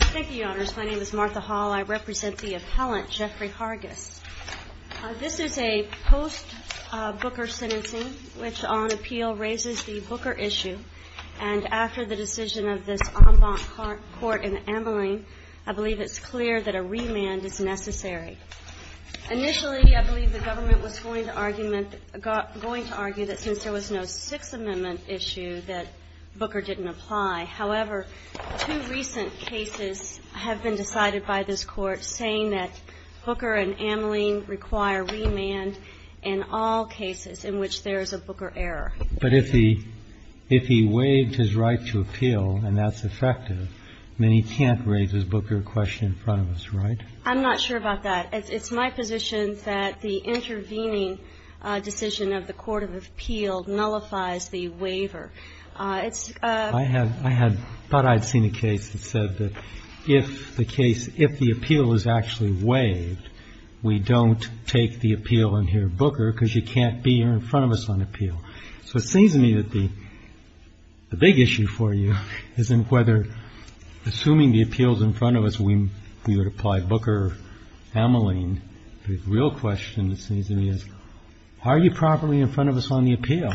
Thank you, Your Honors. My name is Martha Hall. I represent the appellant, Jeffrey Hargis. This is a post-Booker sentencing which on appeal raises the Booker issue, and after the decision of this en banc court in Ameline, I believe it's clear that a remand is necessary. Initially, I believe the government was going to argue that since there was no Sixth Amendment issue that Booker didn't apply. However, two recent cases have been decided by this Court saying that Booker and Ameline require remand in all cases in which there is a Booker error. Roberts But if he waived his right to appeal and that's effective, then he can't raise his Booker question in front of us, right? Hargis I'm not sure about that. It's my position that the intervening decision of the court of appeal nullifies the waiver. It's Roberts I thought I'd seen a case that said that if the appeal is actually waived, we don't take the appeal and hear Booker because you can't be here in front of us on appeal. So it seems to me that the big issue for you is in whether, assuming the appeal is in front of us, we would apply Booker, Ameline. The real question, it seems to me, is are you properly in front of us on the appeal?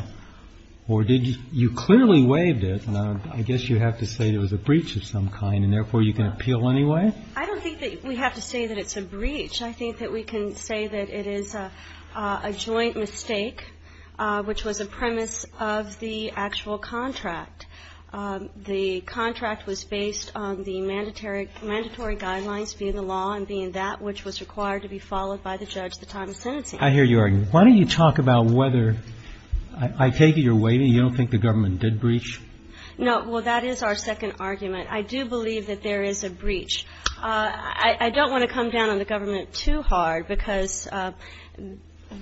Or did you clearly waive it, and I guess you have to say it was a breach of some kind, and therefore you can appeal anyway? Hargis I don't think that we have to say that it's a breach. I think that we can say that it is a joint mistake, which was a premise of the actual contract. The contract was based on the mandatory guidelines, being the law and being that which was required to be followed by the judge at the time of sentencing. Roberts I hear you arguing. Why don't you talk about whether I take it you're waiving, you don't think the government did breach? Hargis No. Well, that is our second argument. I do believe that there is a breach. I don't want to come down on the government too hard, because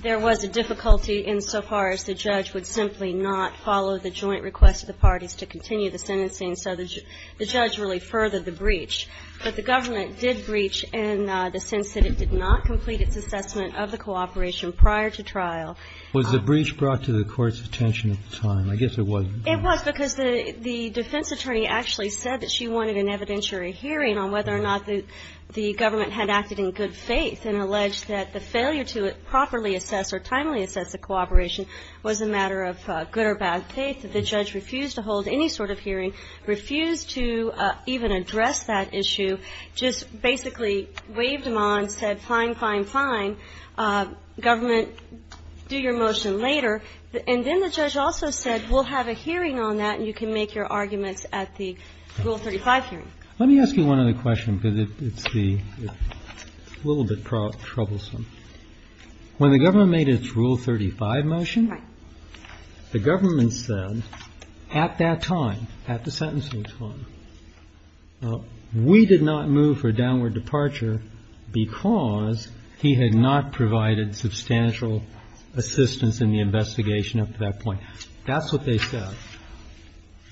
there was a difficulty insofar as the judge would simply not follow the joint request of the parties to continue the sentencing, so the judge really furthered the breach. But the government did breach in the sense that it did not complete its assessment of the cooperation prior to trial. Roberts Was the breach brought to the Court's attention at the time? I guess it was. Hargis It was, because the defense attorney actually said that she wanted an evidentiary hearing on whether or not the government had acted in good faith, and alleged that the failure to properly assess or timely assess the cooperation was a matter of good or bad faith. The judge refused to hold any sort of hearing, refused to even address that issue, just basically waved them on, said fine, fine, fine. Government, do your motion later. And then the judge also said, we'll have a hearing on that, and you can make your arguments at the Rule 35 hearing. Let me ask you one other question, because it's the – it's a little bit troublesome. When the government made its Rule 35 motion, the government said at that time, at the sentencing time, we did not move for a downward departure because he had not provided substantial assistance in the investigation up to that point. That's what they said.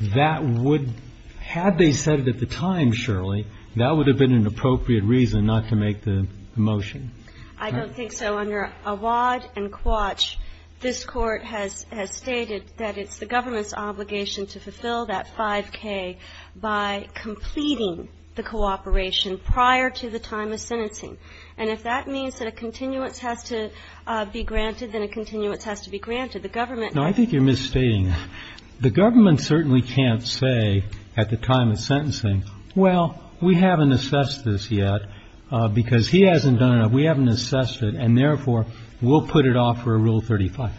That would – had they said it at the time, Shirley, that would have been an appropriate reason not to make the motion. Hargis I don't think so. Under Awad and Quatch, this Court has stated that it's the government's obligation to fulfill that 5K by completing the cooperation prior to the time of sentencing. And if that means that a continuance has to be granted, then a continuance has to be granted. The government – the government certainly can't say at the time of sentencing, well, we haven't assessed this yet because he hasn't done it, we haven't assessed it, and therefore, we'll put it off for a Rule 35.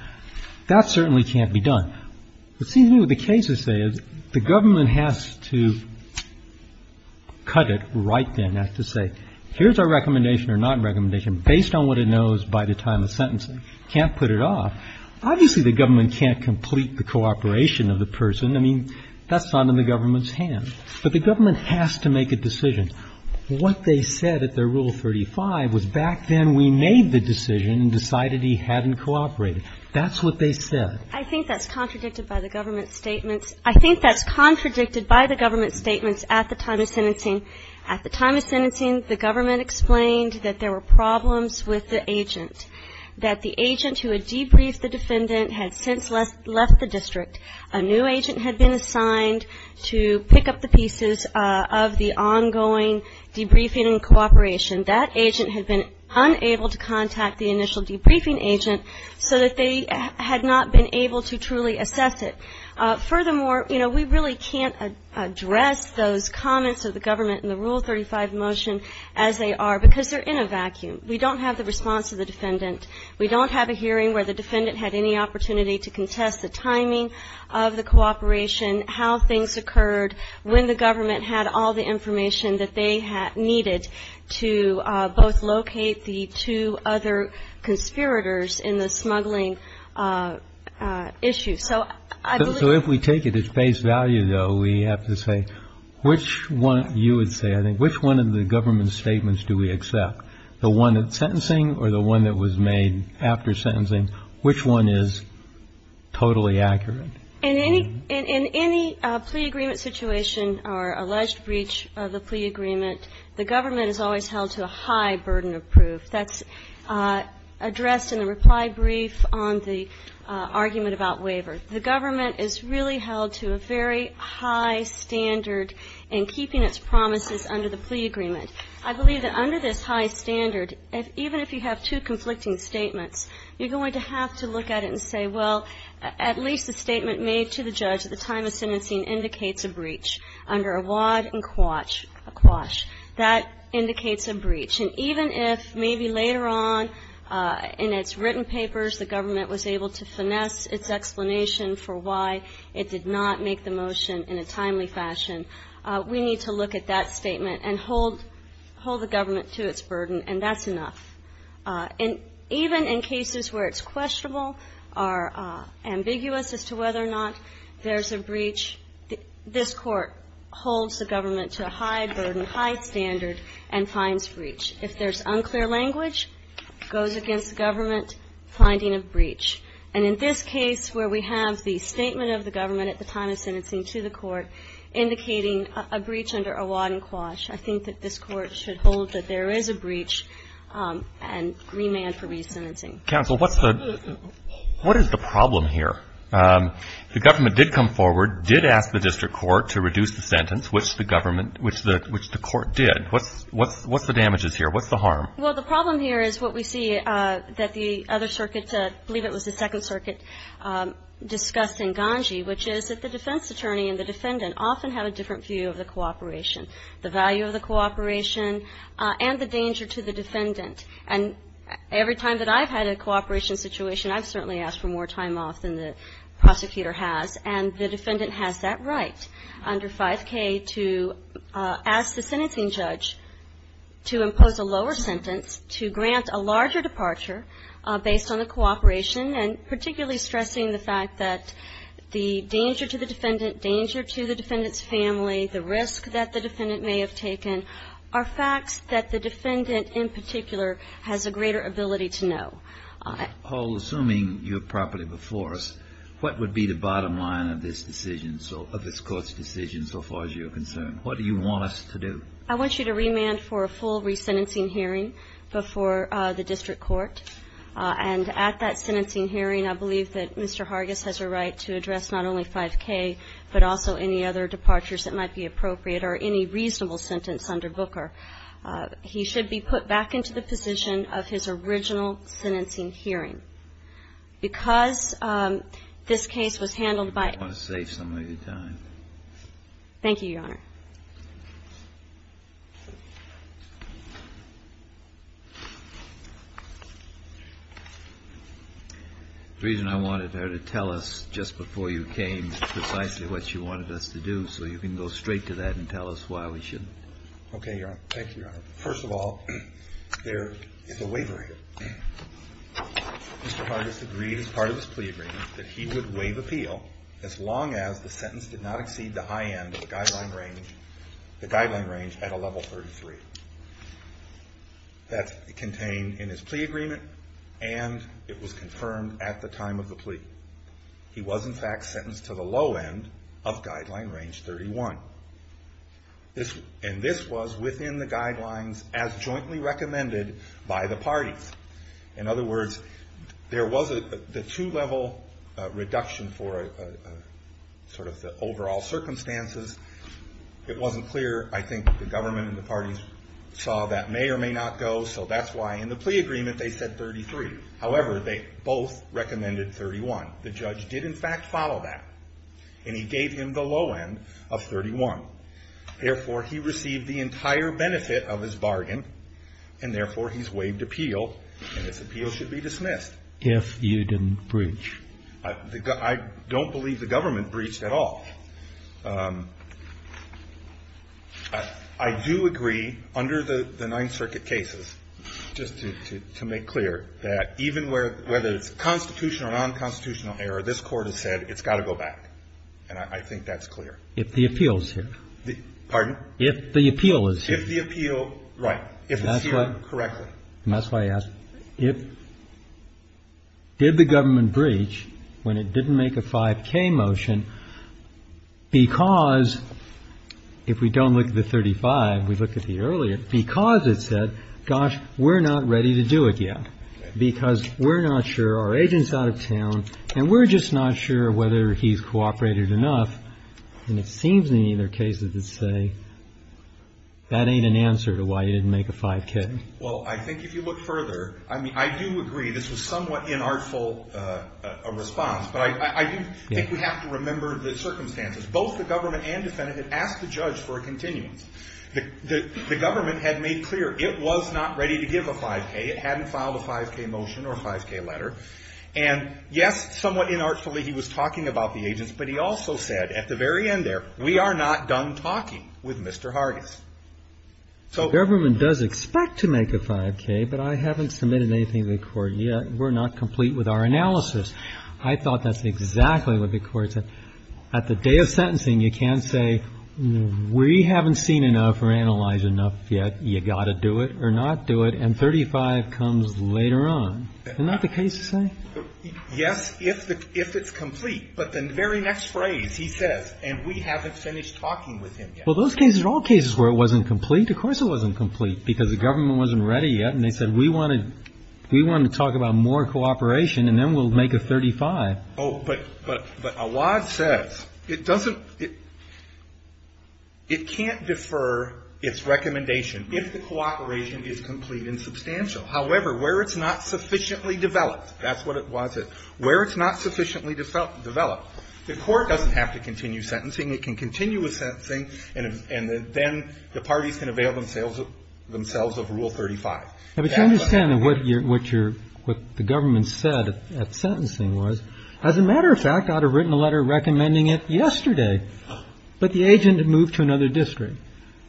That certainly can't be done. It seems to me what the cases say is the government has to cut it right then, has to say, here's our recommendation or non-recommendation based on what it knows by the time of sentencing. can't put it off. Obviously, the government can't complete the cooperation of the person. I mean, that's not in the government's hands. But the government has to make a decision. What they said at their Rule 35 was back then we made the decision and decided he hadn't cooperated. That's what they said. Hargis I think that's contradicted by the government's statements. I think that's contradicted by the government's statements at the time of sentencing. At the time of sentencing, the government explained that there were problems with the agent, that the agent who had debriefed the defendant had since left the district. A new agent had been assigned to pick up the pieces of the ongoing debriefing and cooperation. That agent had been unable to contact the initial debriefing agent so that they had not been able to truly assess it. Furthermore, you know, we really can't address those comments of the government in the Rule 35 motion as they are because they're in a vacuum. We don't have the response of the defendant. We don't have a hearing where the defendant had any opportunity to contest the timing of the cooperation, how things occurred, when the government had all the information that they needed to both locate the two other conspirators in the smuggling issue. So I believe... Kennedy So if we take it at face value, though, we have to say which one, you would say, I think, which one of the government's statements do we accept? The one that's sentencing or the one that was made after sentencing? Which one is totally accurate? McLaughlin In any plea agreement situation or alleged breach of the plea agreement, the government is always held to a high burden of proof. That's addressed in the reply brief on the argument about waiver. The government is really held to a very high standard in keeping its promises under the plea agreement. I believe that under this high standard, even if you have two conflicting statements, you're going to have to look at it and say, well, at least the statement made to the judge at the time of sentencing indicates a breach under a wad and a quash. That indicates a breach. And even if maybe later on in its written papers the government was able to finesse its explanation for why it did not make the motion in a timely fashion, we need to look at that statement and hold the government to its burden, and that's enough. And even in cases where it's questionable or ambiguous as to whether or not there's a breach, this Court holds the government to a high burden, high standard, and finds breach. If there's unclear language, it goes against the government, finding a breach. And in this case where we have the statement of the government at the time of sentencing to the court indicating a breach under a wad and quash, I think that this Court should hold that there is a breach and remand for resentencing. Counsel, what's the – what is the problem here? The government did come forward, did ask the district court to reduce the sentence, which the government – which the court did. What's the damages here? What's the harm? Well, the problem here is what we see that the other circuit, I believe it was the Second Attorney and the defendant, often have a different view of the cooperation, the value of the cooperation, and the danger to the defendant. And every time that I've had a cooperation situation, I've certainly asked for more time off than the prosecutor has, and the defendant has that right under 5K to ask the sentencing judge to impose a lower sentence, to grant a larger departure based on the cooperation, and particularly stressing the fact that the danger to the defendant, danger to the defendant's family, the risk that the defendant may have taken, are facts that the defendant in particular has a greater ability to know. Paul, assuming you're properly before us, what would be the bottom line of this decision so – of this Court's decision so far as you're concerned? What do you want us to do? I want you to remand for a full resentencing hearing before the district court. And at that sentencing hearing, I believe that Mr. Hargis has a right to address not only 5K, but also any other departures that might be appropriate, or any reasonable sentence under Booker. He should be put back into the position of his original sentencing hearing. Because this case was handled by – I want to save some of your time. Thank you, Your Honor. The reason I wanted her to tell us just before you came precisely what she wanted us to do, so you can go straight to that and tell us why we shouldn't. Okay, Your Honor. Thank you, Your Honor. First of all, there is a waiver here. Mr. Hargis agreed as part of his plea agreement that he would waive appeal as long as the sentence did not exceed the high end of the guideline range – the guideline range at a level 33. That's contained in his plea agreement, and it was confirmed at the time of the plea. He was in fact sentenced to the low end of guideline range 31. And this was within the guidelines as jointly recommended by the parties. In other words, there was a two-level reduction for sort of the overall circumstances. It was a two-level reduction. The government and the parties saw that may or may not go, so that's why in the plea agreement they said 33. However, they both recommended 31. The judge did in fact follow that, and he gave him the low end of 31. Therefore, he received the entire benefit of his bargain, and therefore he's waived appeal, and his appeal should be dismissed. If you didn't breach. I don't believe the government breached at all. I do agree under the Ninth Circuit cases, just to make clear, that even whether it's constitutional or nonconstitutional error, this Court has said it's got to go back, and I think that's clear. If the appeal is here. Pardon? If the appeal is here. If the appeal – right. If it's here, correctly. And that's why I asked, if – did the government breach when it didn't make a 5K motion because, if we don't look at the 35, we looked at the earlier, because it said, gosh, we're not ready to do it yet, because we're not sure, our agent's out of town, and we're just not sure whether he's cooperated enough, and it seems to me that there are cases that say that ain't an answer to why he didn't make a 5K. Well, I think if you look further, I mean, I do agree this was somewhat inartful response, but I do think we have to remember the circumstances. Both the government and defendant had asked the judge for a continuance. The government had made clear it was not ready to give a 5K. It hadn't filed a 5K motion or a 5K letter. And, yes, somewhat inartfully he was talking about the agents, but he also said at the very end there, we are not done talking with Mr. Hargis. So the government does expect to make a 5K, but I haven't submitted anything to the Court yet. We're not complete with our analysis. I thought that's exactly what the Court said. At the day of sentencing, you can't say we haven't seen enough or analyzed enough yet, you've got to do it or not do it, and 35 comes later on. Isn't that the case you're saying? Yes, if it's complete. But the very next phrase he says, and we haven't finished talking with him yet. Well, those cases are all cases where it wasn't complete. Of course it wasn't complete, because the government wasn't ready yet, and they said we want to talk about more cooperation, and then we'll make a 35. Oh, but Awad says it doesn't, it can't defer its recommendation if the cooperation is complete and substantial. However, where it's not sufficiently developed, that's what it was. Where it's not sufficiently developed, the Court doesn't have to continue sentencing. It can continue with sentencing, and then the parties can avail themselves of Rule 35. But you understand what the government said at sentencing was, as a matter of fact, I would have written a letter recommending it yesterday, but the agent had moved to another district.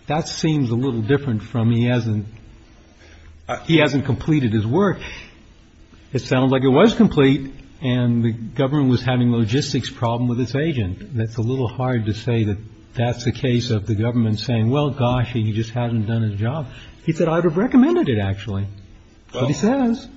That seems a little different from he hasn't completed his work. It sounds like it was complete, and the government was having a logistics problem with its agent. That's a little hard to say that that's the case of the government saying, well, gosh, he just hasn't done his job. He said, I would have recommended it, actually. But he says.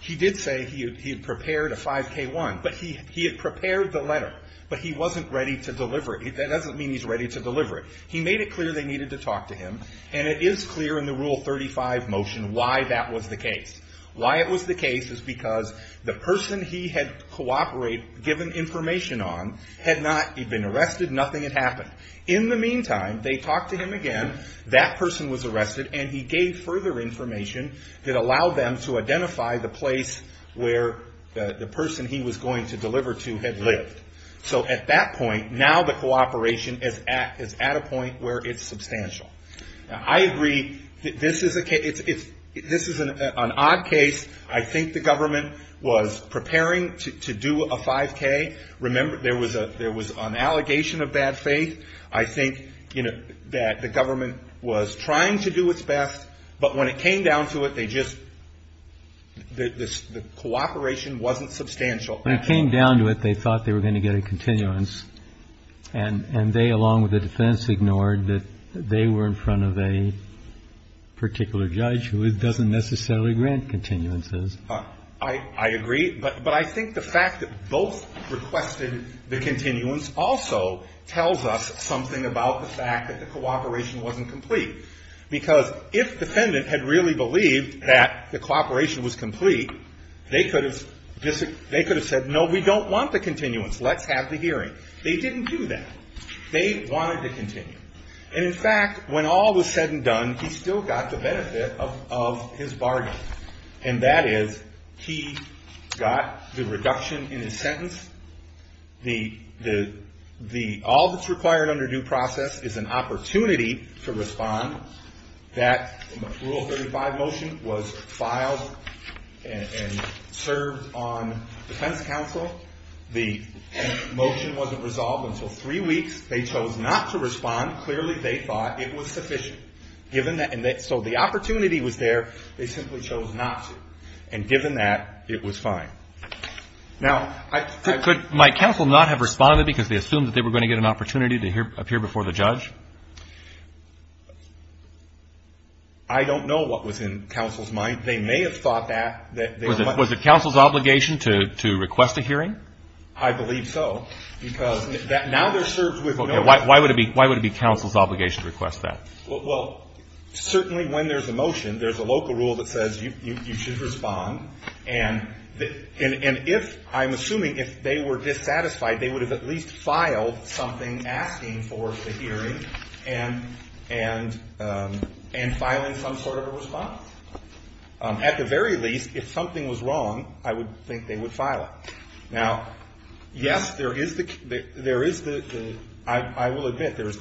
He did say he had prepared a 5K1, but he had prepared the letter, but he wasn't ready to deliver it. That doesn't mean he's ready to deliver it. He made it clear they needed to talk to him, and it is clear in the Rule 35 motion why that was the case. Why it was the case is because the person he had cooperated, given information on, had not been arrested. Nothing had happened. In the meantime, they talked to him again. That person was arrested, and he gave further information that allowed them to identify the place where the person he was going to deliver to had lived. So at that point, now the cooperation is at a point where it's substantial. Now, I agree that this is an odd case. I think the government was preparing to do a 5K. Remember, there was an allegation of bad faith. I think that the government was trying to do its best, but when it came down to it, they just the cooperation wasn't substantial. When it came down to it, they thought they were going to get a continuance, and they, along with the defense, ignored that they were in front of a particular judge who doesn't necessarily grant continuances. I agree. But I think the fact that both requested the continuance also tells us something about the fact that the cooperation wasn't complete. Because if the defendant had really believed that the cooperation was complete, they could have said, no, we don't want the continuance. Let's have the hearing. They didn't do that. They wanted to continue. And, in fact, when all was said and done, he still got the benefit of his bargain, and that is he got the reduction in his sentence. All that's required under due process is an opportunity to respond. That Rule 35 motion was filed and served on defense counsel. The motion wasn't resolved until three weeks. They chose not to respond. Clearly, they thought it was sufficient. So the opportunity was there. They simply chose not to. And given that, it was fine. Now, could my counsel not have responded because they assumed that they were going to get an opportunity to appear before the judge? I don't know what was in counsel's mind. They may have thought that. Was it counsel's obligation to request a hearing? I believe so. Because now they're served with no. Why would it be counsel's obligation to request that? Well, certainly when there's a motion, there's a local rule that says you should respond. And if, I'm assuming, if they were dissatisfied, they would have at least filed something asking for the hearing and filing some sort of a response. At the very least, if something was wrong, I would think they would file it. Now, yes, there is the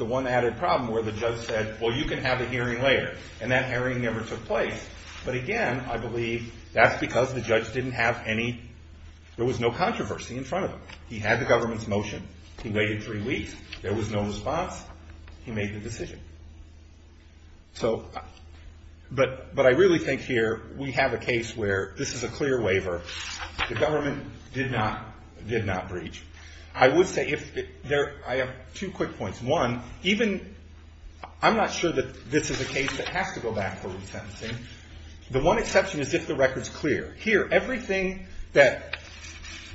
one added problem where the judge said, well, you can have a hearing later. And that hearing never took place. But again, I believe that's because the judge didn't have any, there was no controversy in front of him. He had the government's motion. He waited three weeks. There was no response. He made the decision. So, but I really think here we have a case where this is a clear waiver. The government did not, did not breach. I would say if there, I have two quick points. One, even, I'm not sure that this is a case that has to go back for resentencing. The one exception is if the record's clear. Here, everything that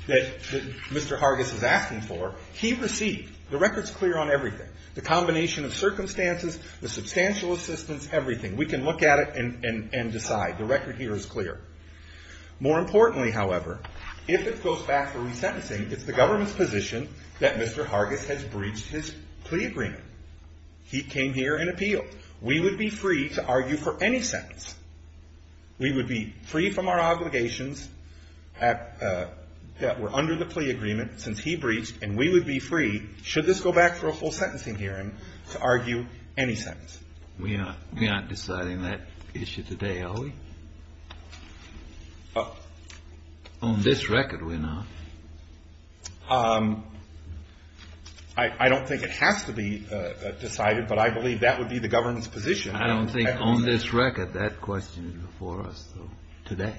Mr. Hargis is asking for, he received. The record's clear on everything. The combination of circumstances, the substantial assistance, everything. We can look at it and decide. The record here is clear. More importantly, however, if it goes back for resentencing, it's the government's position that Mr. Hargis has breached his plea agreement. He came here and appealed. We would be free to argue for any sentence. We would be free from our obligations that were under the plea agreement since he breached, and we would be free, should this go back for a full sentencing hearing, to argue any sentence. We're not deciding that issue today, are we? On this record, we're not. I don't think it has to be decided, but I believe that would be the government's position. I don't think on this record. That question is before us, though, today.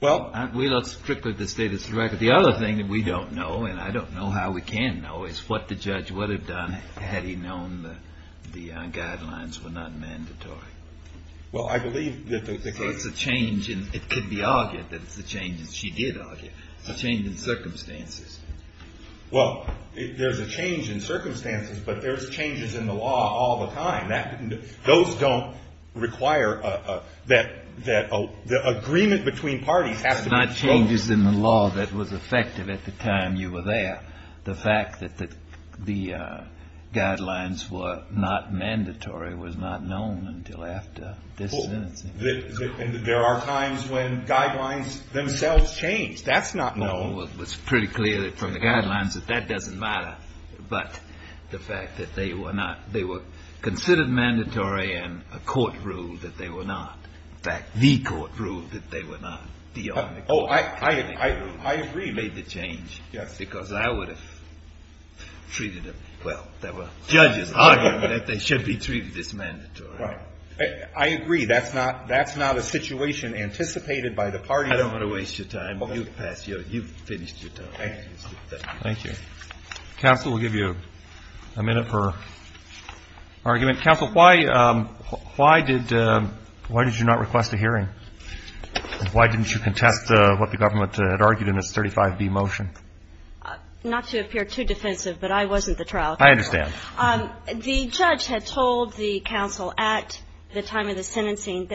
Well. We look strictly at the status of the record. The other thing that we don't know, and I don't know how we can know, is what the judge would have done had he known that the guidelines were not mandatory. Well, I believe that the court's. It could be argued that it's a change, as she did argue, a change in circumstances. Well, there's a change in circumstances, but there's changes in the law all the time. Those don't require that the agreement between parties has to be. It's not changes in the law that was effective at the time you were there. The fact that the guidelines were not mandatory was not known until after this sentencing. There are times when guidelines themselves change. That's not known. It was pretty clear from the guidelines that that doesn't matter. But the fact that they were not, they were considered mandatory and a court ruled that they were not. In fact, the court ruled that they were not. Oh, I agree. They made the change. Yes. Because I would have treated them. Well, there were judges arguing that they should be treated as mandatory. Right. I agree. That's not a situation anticipated by the parties. I don't want to waste your time. You've passed. You've finished your time. Thank you. Thank you. Counsel, we'll give you a minute for argument. Counsel, why did you not request a hearing? Why didn't you contest what the government had argued in its 35B motion? Not to appear too defensive, but I wasn't the trial counsel. I understand. The judge had told the counsel at the time of the sentencing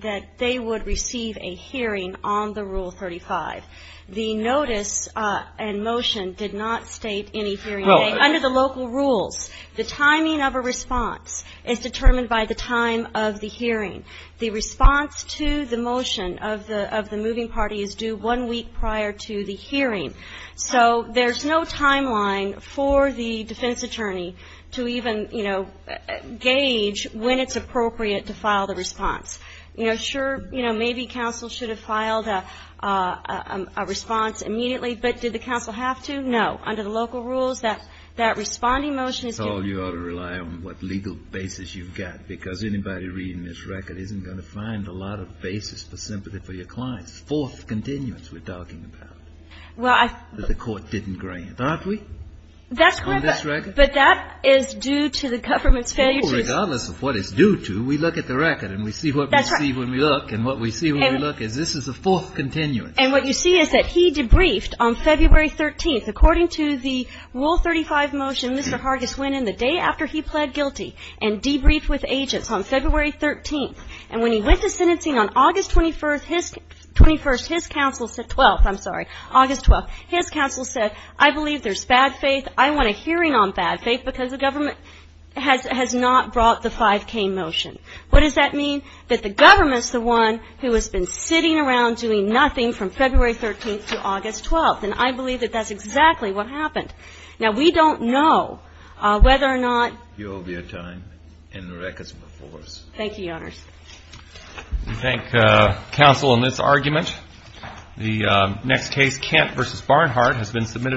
that they would receive a hearing on the Rule 35. The notice and motion did not state any hearing date. Under the local rules, the timing of a response is determined by the time of the hearing. The response to the motion of the moving party is due one week prior to the hearing. So there's no timeline for the defense attorney to even, you know, gauge when it's appropriate to file the response. You know, sure, you know, maybe counsel should have filed a response immediately, but did the counsel have to? No. Under the local rules, that responding motion is due. I told you you ought to rely on what legal basis you've got, because anybody reading this record isn't going to find a lot of basis for sympathy for your clients. Fourth continuance we're talking about. Well, I The court didn't grant. Aren't we? On this record? But that is due to the government's failure to Regardless of what it's due to, we look at the record and we see what we see when we look, and what we see when we look is this is the fourth continuance. And what you see is that he debriefed on February 13th, according to the Rule 35 motion, Mr. Hargis went in the day after he pled guilty and debriefed with agents on February 13th. And when he went to sentencing on August 21st, his counsel said, 12th, I'm sorry, August 12th, his counsel said, I believe there's bad faith. I want a hearing on bad faith because the government has not brought the 5K motion. What does that mean? That the government's the one who has been sitting around doing nothing from February 13th to August 12th. And I believe that that's exactly what happened. Now, we don't know whether or not You owe me a time in the records before us. Thank you, Your Honors. We thank counsel in this argument. The next case, Kent v. Barnhart, has been submitted.